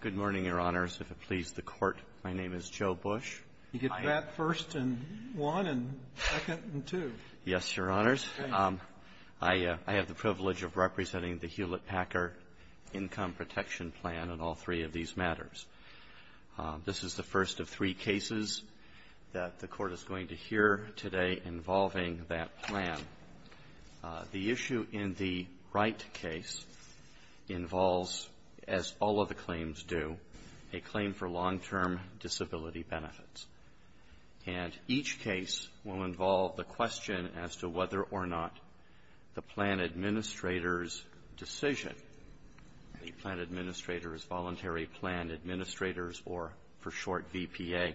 Good morning, Your Honors. If it pleases the Court, my name is Joe Bush. You get that first and one, and second and two. Yes, Your Honors. I have the privilege of representing the Hewlett-Packard Income Protection Plan on all three of these matters. This is the first of three cases that the Court is going to hear today involving that plan. The issue in the right case involves, as all of the claims do, a claim for long-term disability benefits. And each case will involve the question as to whether or not the plan administrator's decision, the plan administrator's voluntary plan administrators, or for short, VPA,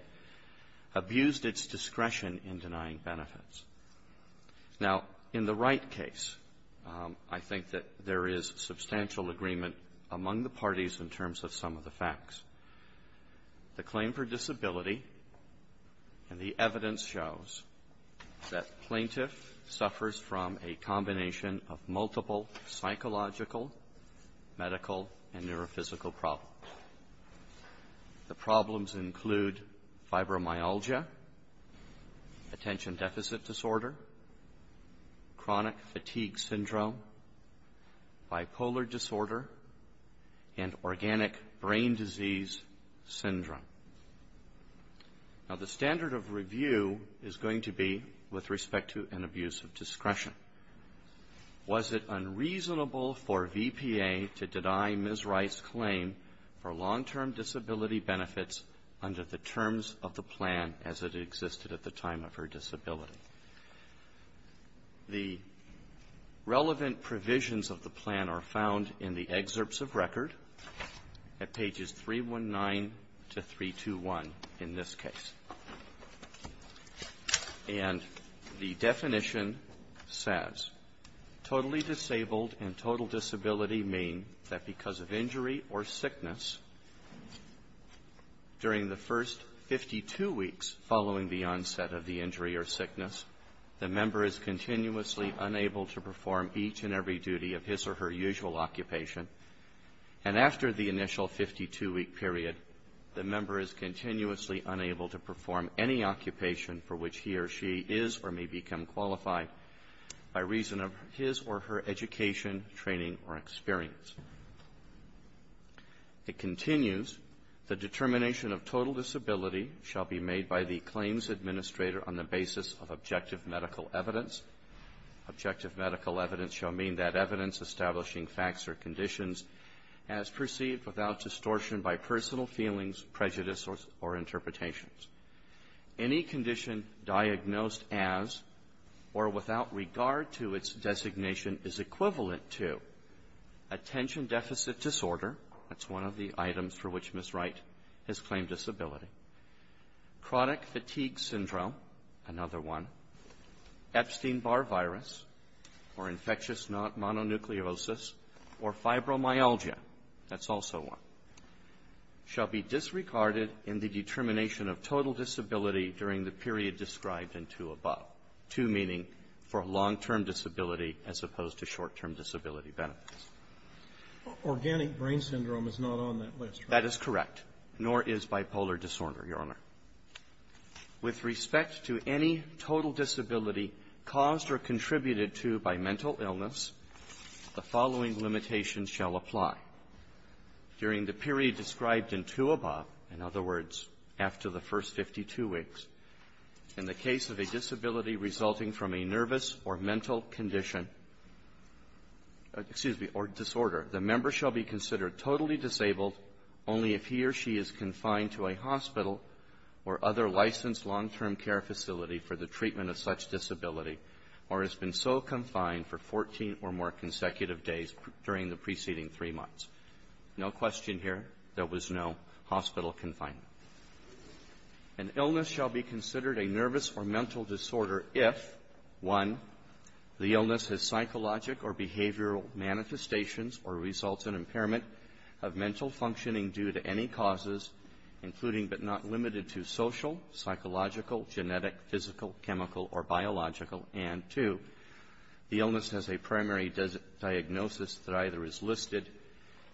abused its discretion in denying benefits. Now, in the right case, I think that there is substantial agreement among the parties in terms of some of the facts. The claim for disability and the evidence shows that plaintiff suffers from a combination of multiple psychological, medical, and neurophysical problems. The problems include fibromyalgia, attention deficit disorder, chronic fatigue syndrome, bipolar disorder, and organic brain disease syndrome. Now, the standard of review is going to be with respect to an abuse of discretion. Was it unreasonable for VPA to deny Ms. Wright's claim for long-term disability benefits under the terms of the plan as it existed at the time of her disability? The relevant provisions of the plan are found in the excerpts of record at pages 319 to 321 in this case. And the definition says, totally disabled and total disability mean that because of injury or sickness during the first 52 weeks following the onset of the injury or sickness, the member is continuously unable to perform each and every duty of his or her usual occupation. And after the initial 52-week period, the member is continuously unable to perform any occupation for which he or she is or may become qualified by reason of his or her education, training, or experience. It continues, the determination of total disability shall be made by the claims administrator on the basis of objective medical evidence. Objective medical evidence shall mean that evidence establishing facts or conditions as perceived without distortion by personal feelings, prejudice, or interpretations. Any condition diagnosed as or without regard to its designation is equivalent to attention deficit disorder, that's one of the items for which Ms. Wright has claimed disability, Chronic fatigue syndrome, another one, Epstein-Barr virus, or infectious non-mononucleosis, or fibromyalgia, that's also one, shall be disregarded in the determination of total disability during the period described in two above. Two meaning for long-term disability as opposed to short-term disability benefits. Organic brain syndrome is not on that list, right? That is correct, nor is bipolar disorder, Your Honor. With respect to any total disability caused or contributed to by mental illness, the following limitations shall apply. During the period described in two above, in other words, after the first 52 weeks, in the case of a disability resulting from a nervous or mental condition, excuse me, or disorder, the member shall be considered totally disabled only if he or she is confined to a hospital or other licensed long-term care facility for the treatment of such disability or has been so confined for 14 or more consecutive days during the preceding three months. No question here. There was no hospital confinement. An illness shall be considered a nervous or mental disorder if, one, the illness has psychological or behavioral manifestations or results in impairment of mental functioning due to any causes, including but not limited to social, psychological, genetic, physical, chemical, or biological, and two, the illness has a primary diagnosis that either is listed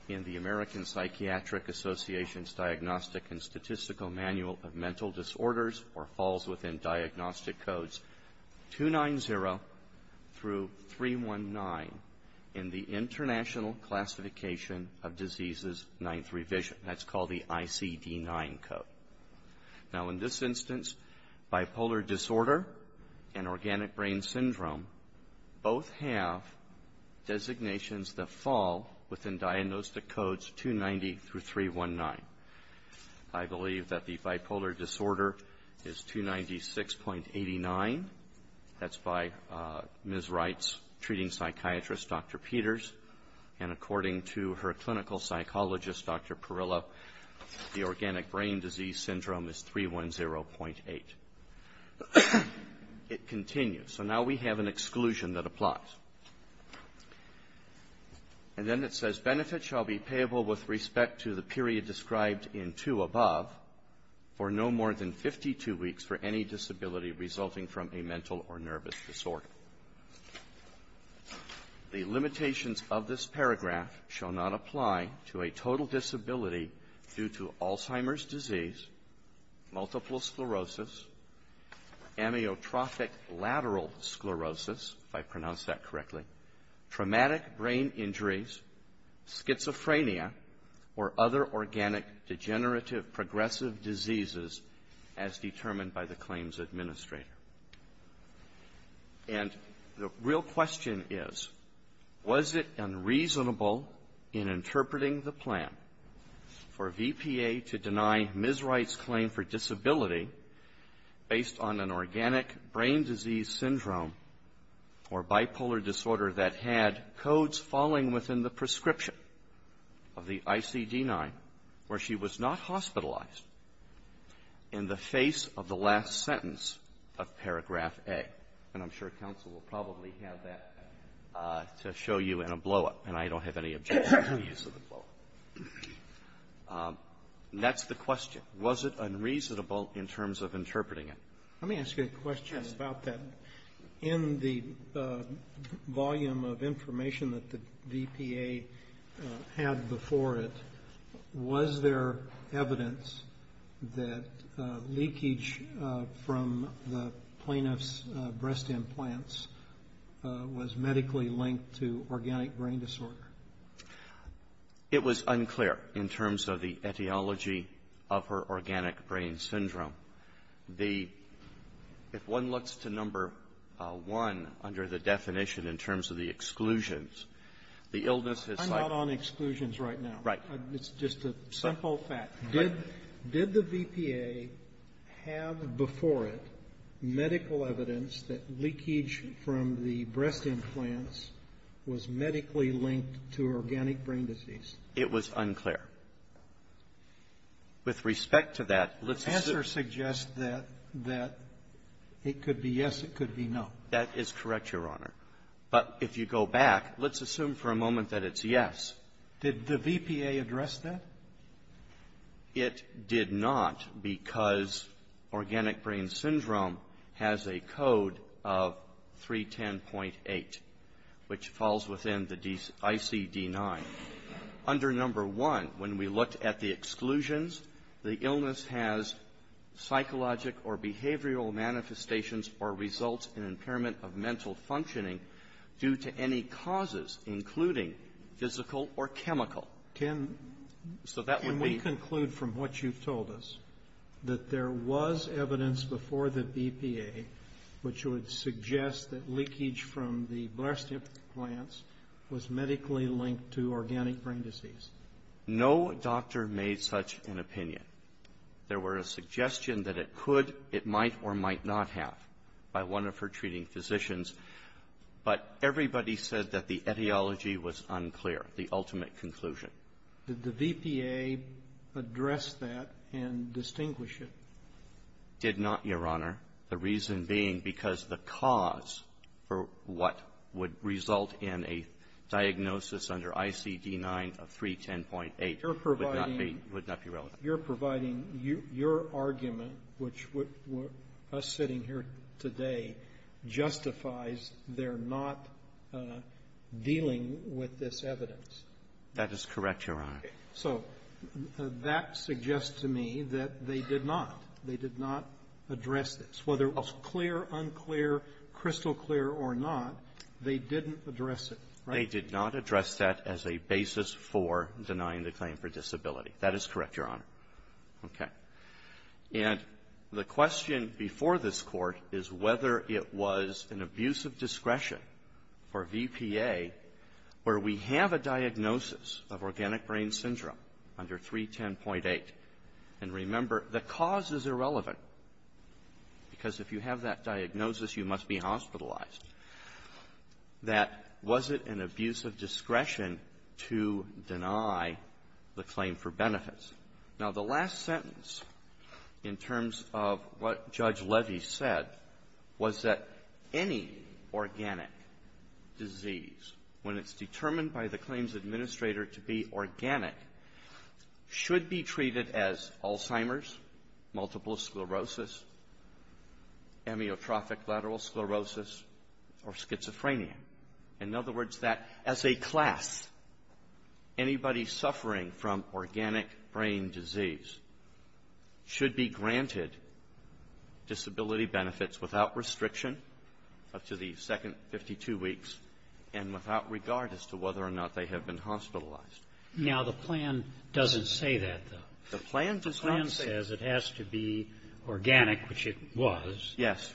in the American Psychiatric Association's Diagnostic and Statistical Manual of Mental Disorders or falls within diagnostic codes 290 through 319 in the International Classification of Diseases Ninth Revision. That's called the ICD-9 code. Now, in this instance, bipolar disorder and organic brain syndrome both have designations that fall within diagnostic codes 290 through 319. I believe that the bipolar disorder is 296.89. That's by Ms. Wright's treating psychiatrist, Dr. Peters, and according to her clinical psychologist, Dr. Perilla, the organic brain disease syndrome is 310.8. It continues. So now we have an exclusion that applies. And then it says benefit shall be payable with respect to the period described in 2 above for no more than 52 weeks for any disability resulting from a mental or nervous disorder. The limitations of this paragraph shall not apply to a total disability due to Alzheimer's disease, multiple sclerosis, amyotrophic lateral sclerosis, if I pronounced that correctly, traumatic brain injuries, schizophrenia, or other organic degenerative progressive diseases as determined by the claims administrator. And the real question is, was it unreasonable in interpreting the plan for a VPA to deny Ms. Wright's claim for disability based on an organic brain disease syndrome or bipolar disorder that had In the face of the last sentence of paragraph A, and I'm sure counsel will probably have that to show you in a blow-up, and I don't have any objection to the use of the blow-up. That's the question. Was it unreasonable in terms of interpreting it? Let me ask you a question about that. In the volume of information that the VPA had before it, was there evidence that leakage from the plaintiff's breast implants was medically linked to organic brain disorder? It was unclear in terms of the etiology of her organic brain syndrome. The If one looks to number one under the definition in terms of the exclusions, the illness is like I'm not on exclusions right now. Right. It's just a simple fact. Did the VPA have before it medical evidence that leakage from the breast implants was medically linked to organic brain disease? It was unclear. With respect to that, let's assume that The answer suggests that it could be yes, it could be no. That is correct, Your Honor. But if you go back, let's assume for a moment that it's yes. Did the VPA address that? It did not because organic brain syndrome has a code of 310.8, which falls within the ICD-9. Under number one, when we looked at the exclusions, the illness has psychological or behavioral manifestations or results in impairment of mental functioning due to any causes, including physical or chemical. Can we conclude from what you've told us that there was evidence before the VPA which would suggest that leakage from the breast implants was medically linked to organic brain disease? No doctor made such an opinion. There were a suggestion that it could, it might, or might not have by one of her treating physicians. But everybody said that the etiology was unclear, the ultimate conclusion. Did the VPA address that and distinguish it? Did not, Your Honor. The reason being because the cause for what would result in a diagnosis under ICD-9 of 310.8 would not be relevant. You're providing your argument, which what us sitting here today justifies they're not dealing with this evidence. That is correct, Your Honor. So that suggests to me that they did not. They did not address this. Whether it was clear, unclear, crystal clear or not, they didn't address it, right? They did not address that as a basis for denying the claim for disability. That is correct, Your Honor. Okay. And the question before this Court is whether it was an abuse of discretion for VPA where we have a diagnosis of organic brain syndrome under 310.8. And remember, the cause is irrelevant because if you have that diagnosis, you must be hospitalized, that was it an abuse of discretion to deny the claim for benefits? Now, the last sentence in terms of what Judge Levy said was that any organic disease, when it's determined by the claims administrator to be organic, should be treated as Alzheimer's, multiple sclerosis, amyotrophic lateral sclerosis, or schizophrenia. In other words, that as a class, anybody suffering from organic brain disease should be granted disability benefits without restriction up to the second 52 weeks and without regard as to whether or not they have been hospitalized. Now, the plan doesn't say that, though. The plan does not say that. The plan says it has to be organic, which it was. Yes.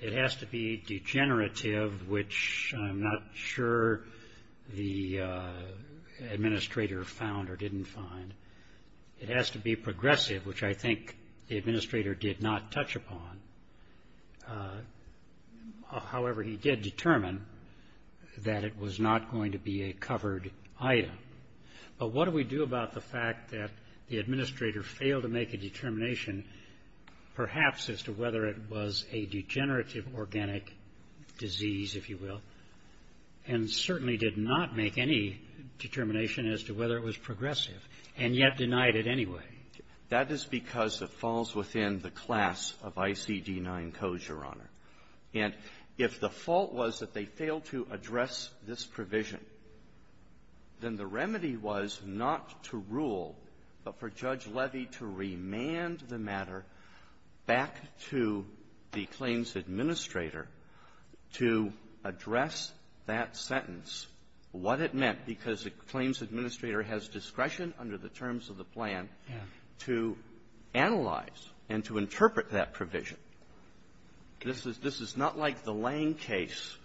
It has to be degenerative, which I'm not sure the administrator found or didn't find. It has to be progressive, which I think the administrator did not touch upon. However, he did determine that it was not going to be a covered item. But what do we do about the fact that the administrator failed to make a determination perhaps as to whether it was a degenerative organic disease, if you will, and certainly did not make any determination as to whether it was progressive, and yet denied it anyway? That is because it falls within the class of ICD-9 codes, Your Honor. And if the fault was that they failed to address this provision, then the remedy was not to rule, but for Judge Levy to remand the matter back to the claims administrator to address that sentence, what it meant, because the claims administrator has discretion under the terms of the plan to analyze and to interpret that provision. This is not like the Lange case,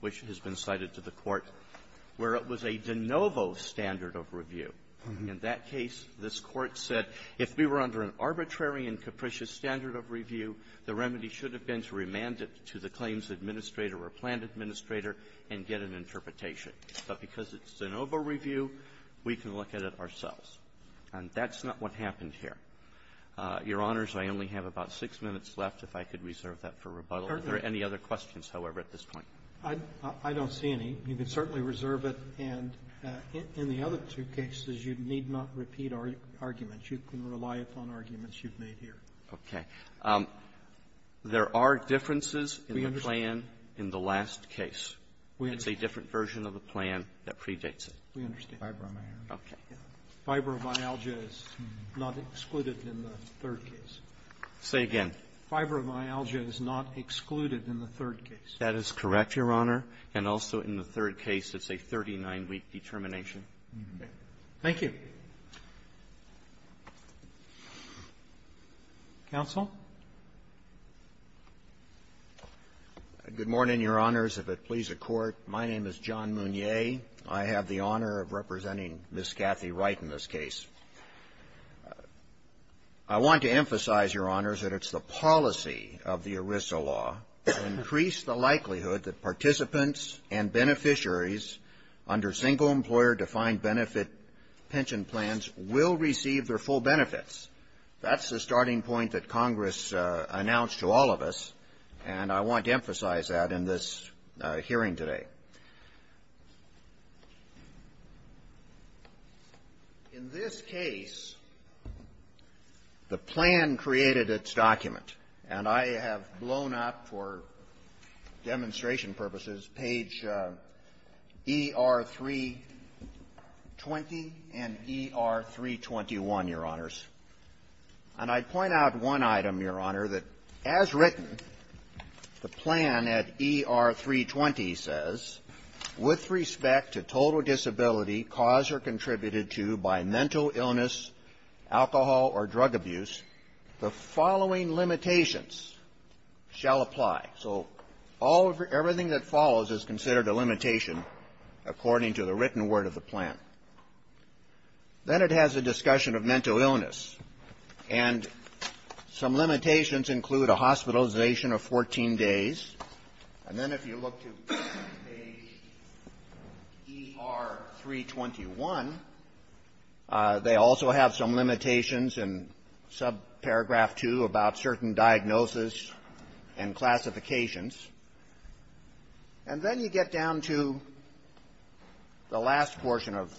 which has been cited to the Court, where it was a de novo standard of review. In that case, this Court said if we were under an arbitrary and capricious standard of review, the remedy should have been to remand it to the claims administrator or plan administrator and get an interpretation. But because it's de novo review, we can look at it ourselves. And that's not what happened here. Your Honors, I only have about six minutes left, if I could reserve that for rebuttal. Are there any other questions, however, at this point? Robertson, I don't see any. You can certainly reserve it. And in the other two cases, you need not repeat arguments. You can rely upon arguments you've made here. Okay. There are differences in the plan in the last case. It's a different version of the plan that predates it. We understand. Fibromyalgia is not excluded in the third case. Say again. Fibromyalgia is not excluded in the third case. That is correct, Your Honor. And also in the third case, it's a 39-week determination. Thank you. Roberts. Good morning, Your Honors. If it please the Court, my name is John Mounier. I have the honor of representing Ms. Cathy Wright in this case. I want to emphasize, Your Honors, that it's the policy of the ERISA law to increase the likelihood that participants and beneficiaries under single-employer defined benefit pension plans will receive their full benefits. That's the starting point that Congress announced to all of us. And I want to emphasize that in this hearing today. In this case, the plan created its document. And I have blown up, for demonstration purposes, page ER-320 and ER-321, Your Honors. And I'd point out one item, Your Honor, that as written, the plan at ER-320 says, with respect to total disability caused or contributed to by mental illness, alcohol, or drug abuse, the following limitations shall apply. So all of your – everything that follows is considered a limitation according to the written word of the plan. Then it has a discussion of mental illness. And some limitations include a hospitalization of 14 days. And then if you look to page ER-321, they also have some limitations in subparagraph 2 about certain diagnosis and classifications. And then you get down to the last portion of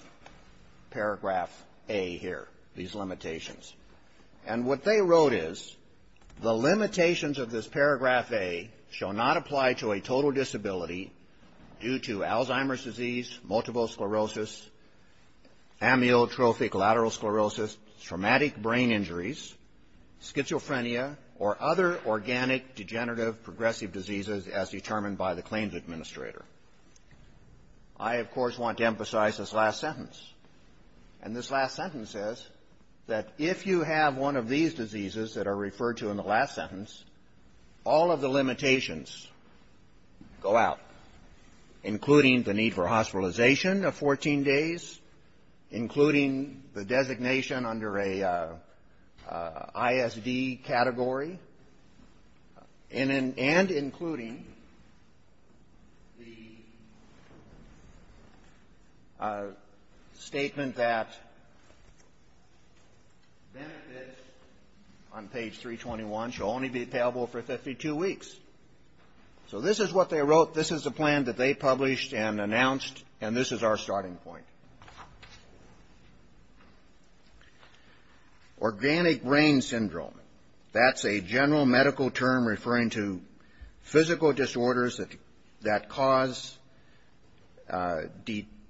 paragraph A here, these limitations. And what they wrote is, the limitations of this paragraph A shall not apply to a total disability due to Alzheimer's disease, multiple sclerosis, amyotrophic lateral sclerosis, traumatic brain injuries, schizophrenia, or other organic degenerative progressive diseases as determined by the claims administrator. I, of course, want to emphasize this last sentence. And this last sentence says that if you have one of these diseases that are referred to in the last sentence, all of the limitations go out, including the need for hospitalization of 14 days, including the designation under a ISD category, and including the statement that benefits on page 321 shall only be payable for 52 weeks. So this is what they wrote. This is a plan that they published and announced, and this is our starting point. Organic brain syndrome, that's a general medical term referring to physical disorders that cause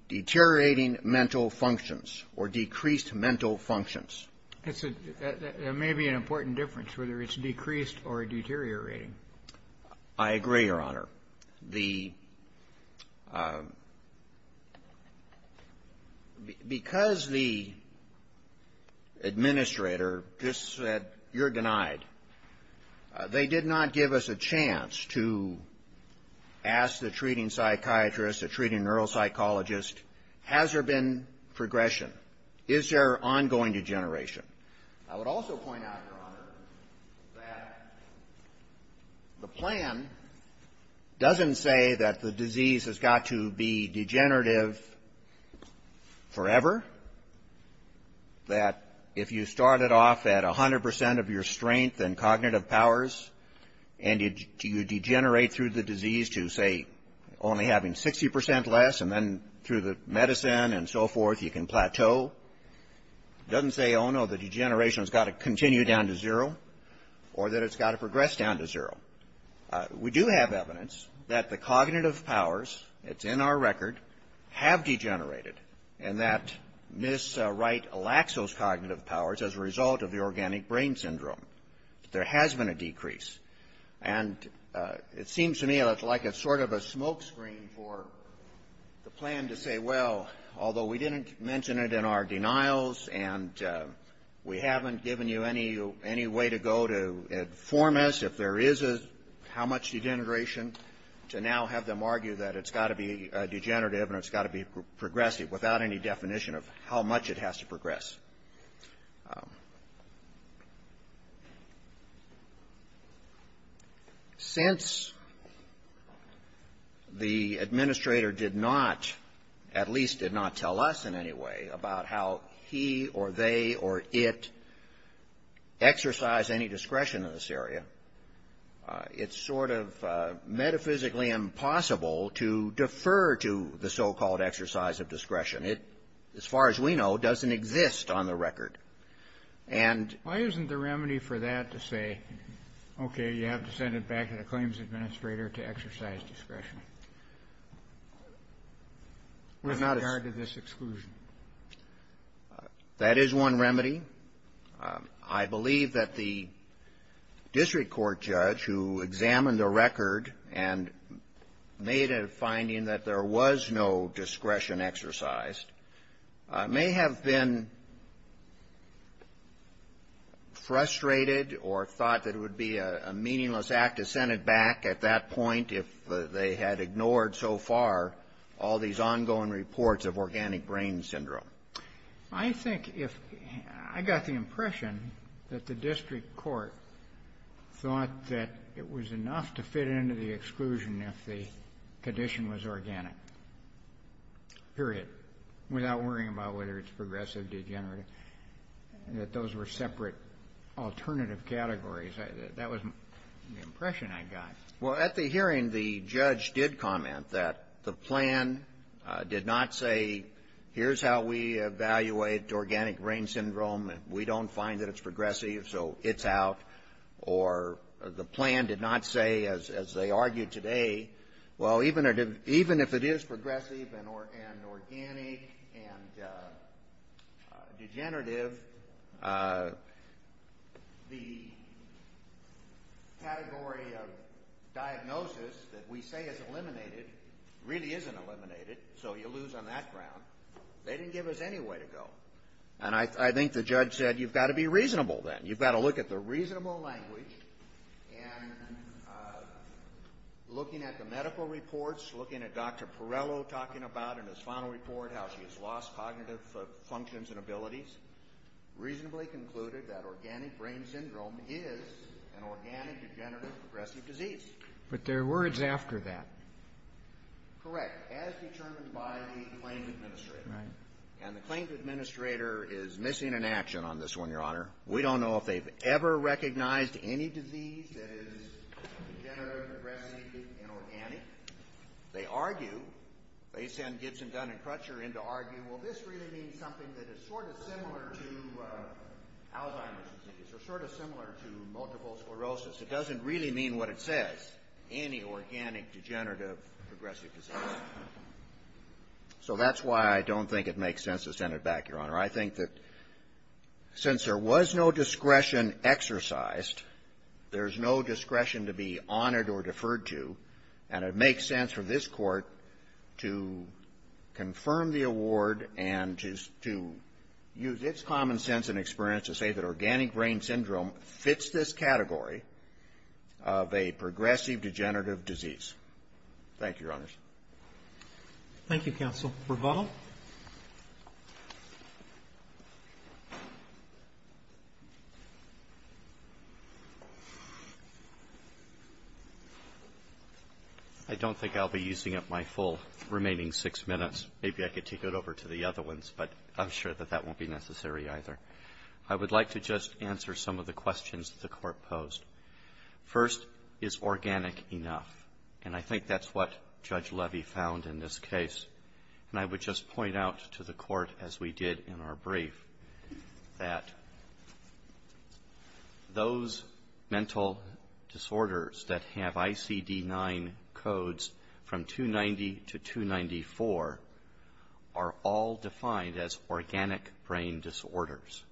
deteriorating mental functions or decreased mental functions. It may be an important difference, whether it's decreased or deteriorating. I agree, Your Honor. The ‑‑ because the administrator just said, you're denied, they did not give us a chance to ask the treating psychiatrist, the treating neuropsychologist, has there been progression? Is there ongoing degeneration? I would also point out, Your Honor, that the plan doesn't say that the disease has got to be degenerative forever, that if you start it off at 100 percent of your strength and cognitive powers, and you degenerate through the disease to, say, only having 60 percent less, and then through the medicine and so forth you can plateau, it doesn't say, oh, no, the degeneration has got to continue down to zero or that it's got to progress down to zero. We do have evidence that the cognitive powers, it's in our record, have degenerated, and that Ms. Wright lacks those cognitive powers as a result of the organic brain syndrome. There has been a decrease. And it seems to me like it's sort of a smoke screen for the plan to say, well, although we didn't mention it in our denials, and we haven't given you any way to go to inform us if there is a how much degeneration, to now have them argue that it's got to be degenerative and it's got to be progressive without any definition of how much it has to progress. Since the administrator did not, at least did not tell us in any way about how he or they or it exercise any discretion in this area, it's sort of metaphysically impossible to defer to the so-called exercise of discretion. It, as far as we know, doesn't exist on the record. And why isn't the remedy for that to say, okay, you have to send it back to the claims administrator to exercise discretion? With regard to this exclusion. That is one remedy. I believe that the district court judge who examined the record and made a finding that there was no discretion exercised may have been frustrated or thought that it would be a meaningless act to send it back at that point if they had ignored so far all these ongoing reports of organic brain syndrome. I think if, I got the impression that the district court thought that it was enough to fit into the exclusion if the condition was organic, period, without worrying about whether it's progressive, degenerative, that those were separate alternative categories, that was the impression I got. Well, at the hearing, the judge did comment that the plan did not say here's how we evaluate organic brain syndrome, we don't find that it's progressive, so it's out. Or the plan did not say, as they argue today, well, even if it is progressive and organic and degenerative, the category of diagnosis that we say is eliminated really isn't eliminated, so you lose on that ground. They didn't give us any way to go. And I think the judge said, you've got to be reasonable then. You've got to look at the reasonable language, and looking at the medical reports, looking at Dr. Perrello talking about in his final report how she has lost cognitive functions and abilities, reasonably concluded that organic brain syndrome is an organic, degenerative, progressive disease. But there are words after that. Correct, as determined by the claims administrator. Right. And the claims administrator is missing an action on this one, Your Honor. We don't know if they've ever recognized any disease that is degenerative, progressive, and organic. They argue, they send Gibson, Dunn, and Crutcher in to argue, well, this really means something that is sort of similar to Alzheimer's disease or sort of similar to multiple sclerosis. It doesn't really mean what it says, any organic, degenerative, progressive disease. So that's why I don't think it makes sense to send it back, Your Honor. I think that since there was no discretion exercised, there's no discretion to be honored or deferred to, and it makes sense for this Court to confirm the award and to use its common sense and experience to say that organic brain syndrome fits this category of a progressive, degenerative disease. Thank you, Your Honors. Thank you, counsel. Bravado? I don't think I'll be using up my full remaining six minutes. Maybe I could take it over to the other ones, but I'm sure that that won't be necessary either. I would like to just answer some of the questions that the Court posed. First, is organic enough? And I think that's what Judge Levy found in this case. And I would just point out to the Court, as we did in our brief, that those mental disorders that have ICD-9 codes from 290 to 294 are all defined as organic brain disorders.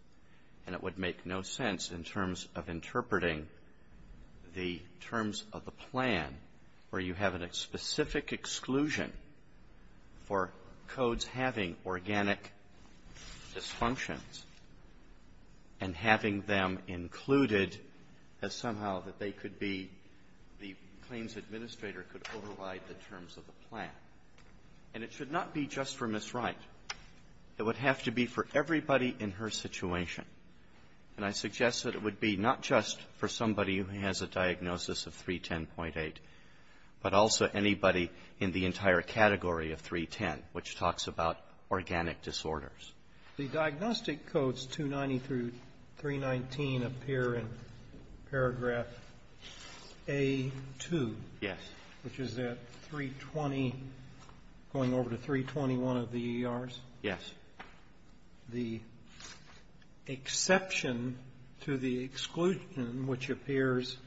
And it would make no sense in terms of interpreting the terms of the plan where you have a specific exclusion for codes having organic dysfunctions and having them included as somehow that they could be, the claims administrator could override the terms of the plan. And it should not be just for Ms. Wright. It would have to be for everybody in her situation. And I suggest that it would be not just for somebody who has a diagnosis of 310.8, but also anybody in the entire category of 310, which talks about organic disorders. The diagnostic codes 290 through 319 appear in paragraph A-2. Yes. Which is at 320, going over to 321 of the ERs. Yes. The exception to the exclusion, which appears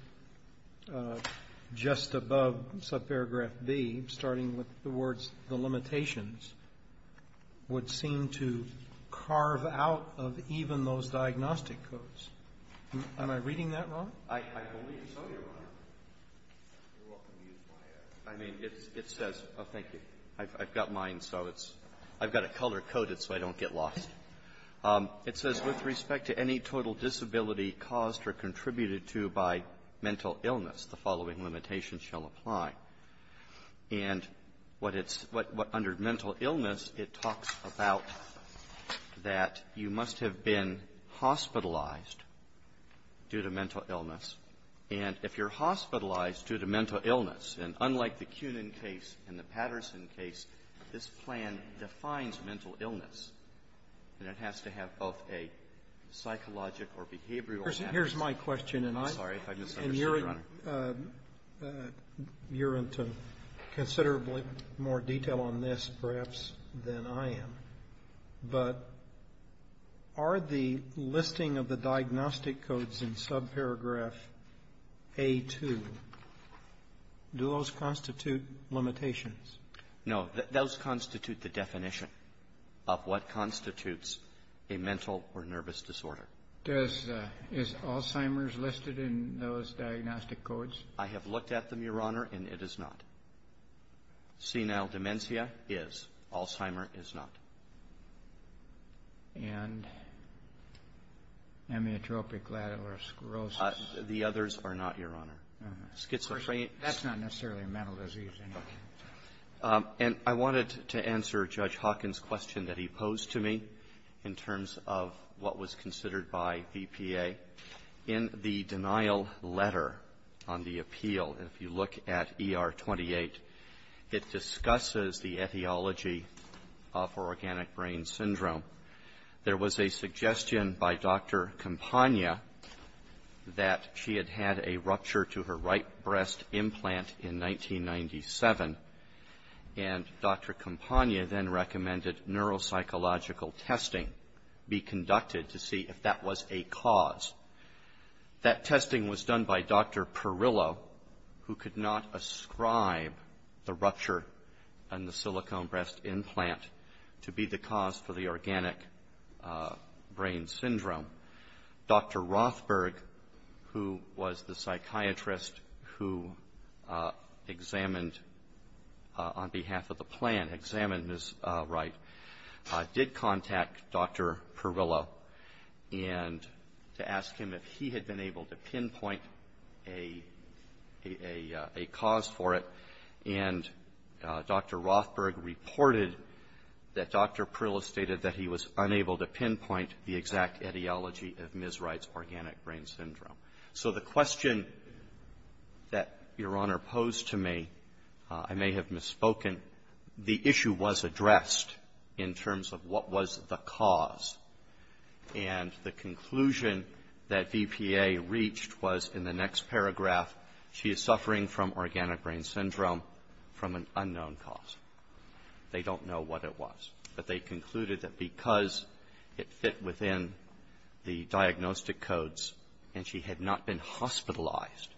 just above subparagraph B, starting with the words, the limitations, would seem to carve out of even those diagnostic codes. Am I reading that wrong? I believe so, Your Honor. You're welcome to use my answer. I mean, it says oh, thank you. I've got mine. So it's — I've got it color-coded so I don't get lost. It says, with respect to any total disability caused or contributed to by mental illness, the following limitations shall apply. And what it's — what under mental illness, it talks about that you must have been hospitalized due to mental illness. And if you're hospitalized due to mental illness, and unlike the Kunin case and the Kunin case, this plan defines mental illness, and it has to have both a psychological or behavioral aspect. Here's my question, and I'm sorry if I misunderstood, Your Honor. And you're into considerably more detail on this, perhaps, than I am. But are the listing of the diagnostic codes in subparagraph A-2, do those constitute limitations? No. Those constitute the definition of what constitutes a mental or nervous disorder. Does — is Alzheimer's listed in those diagnostic codes? I have looked at them, Your Honor, and it is not. Senile dementia is. Alzheimer is not. And amyotropic lateral sclerosis? The others are not, Your Honor. Schizophrenia — And I wanted to answer Judge Hawkins' question that he posed to me in terms of what was considered by BPA. In the denial letter on the appeal, if you look at ER-28, it discusses the etiology of organic brain syndrome. There was a suggestion by Dr. Campagna that she had had a rupture to her right breast implant in 1997. And Dr. Campagna then recommended neuropsychological testing be conducted to see if that was a cause. That testing was done by Dr. Perillo, who could not ascribe the rupture in the silicone breast implant to be the cause for the organic brain syndrome. Dr. Rothberg, who was the psychiatrist who examined on behalf of the plan, examined Ms. Wright, did contact Dr. Perillo to ask him if he had been able to pinpoint a cause for it. And Dr. Rothberg reported that Dr. Perillo stated that he was unable to pinpoint the etiology of Ms. Wright's organic brain syndrome. So the question that Your Honor posed to me, I may have misspoken, the issue was addressed in terms of what was the cause. And the conclusion that BPA reached was in the next paragraph, she is suffering from organic brain syndrome from an unknown cause. They don't know what it was. But they concluded that because it fit within the diagnostic codes and she had not been hospitalized,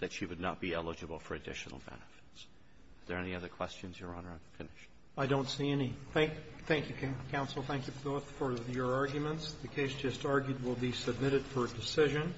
that she would not be eligible for additional benefits. Is there any other questions, Your Honor? I'm finished. Roberts. I don't see any. Thank you, counsel. Thank you both for your arguments. The case just argued will be submitted for decision.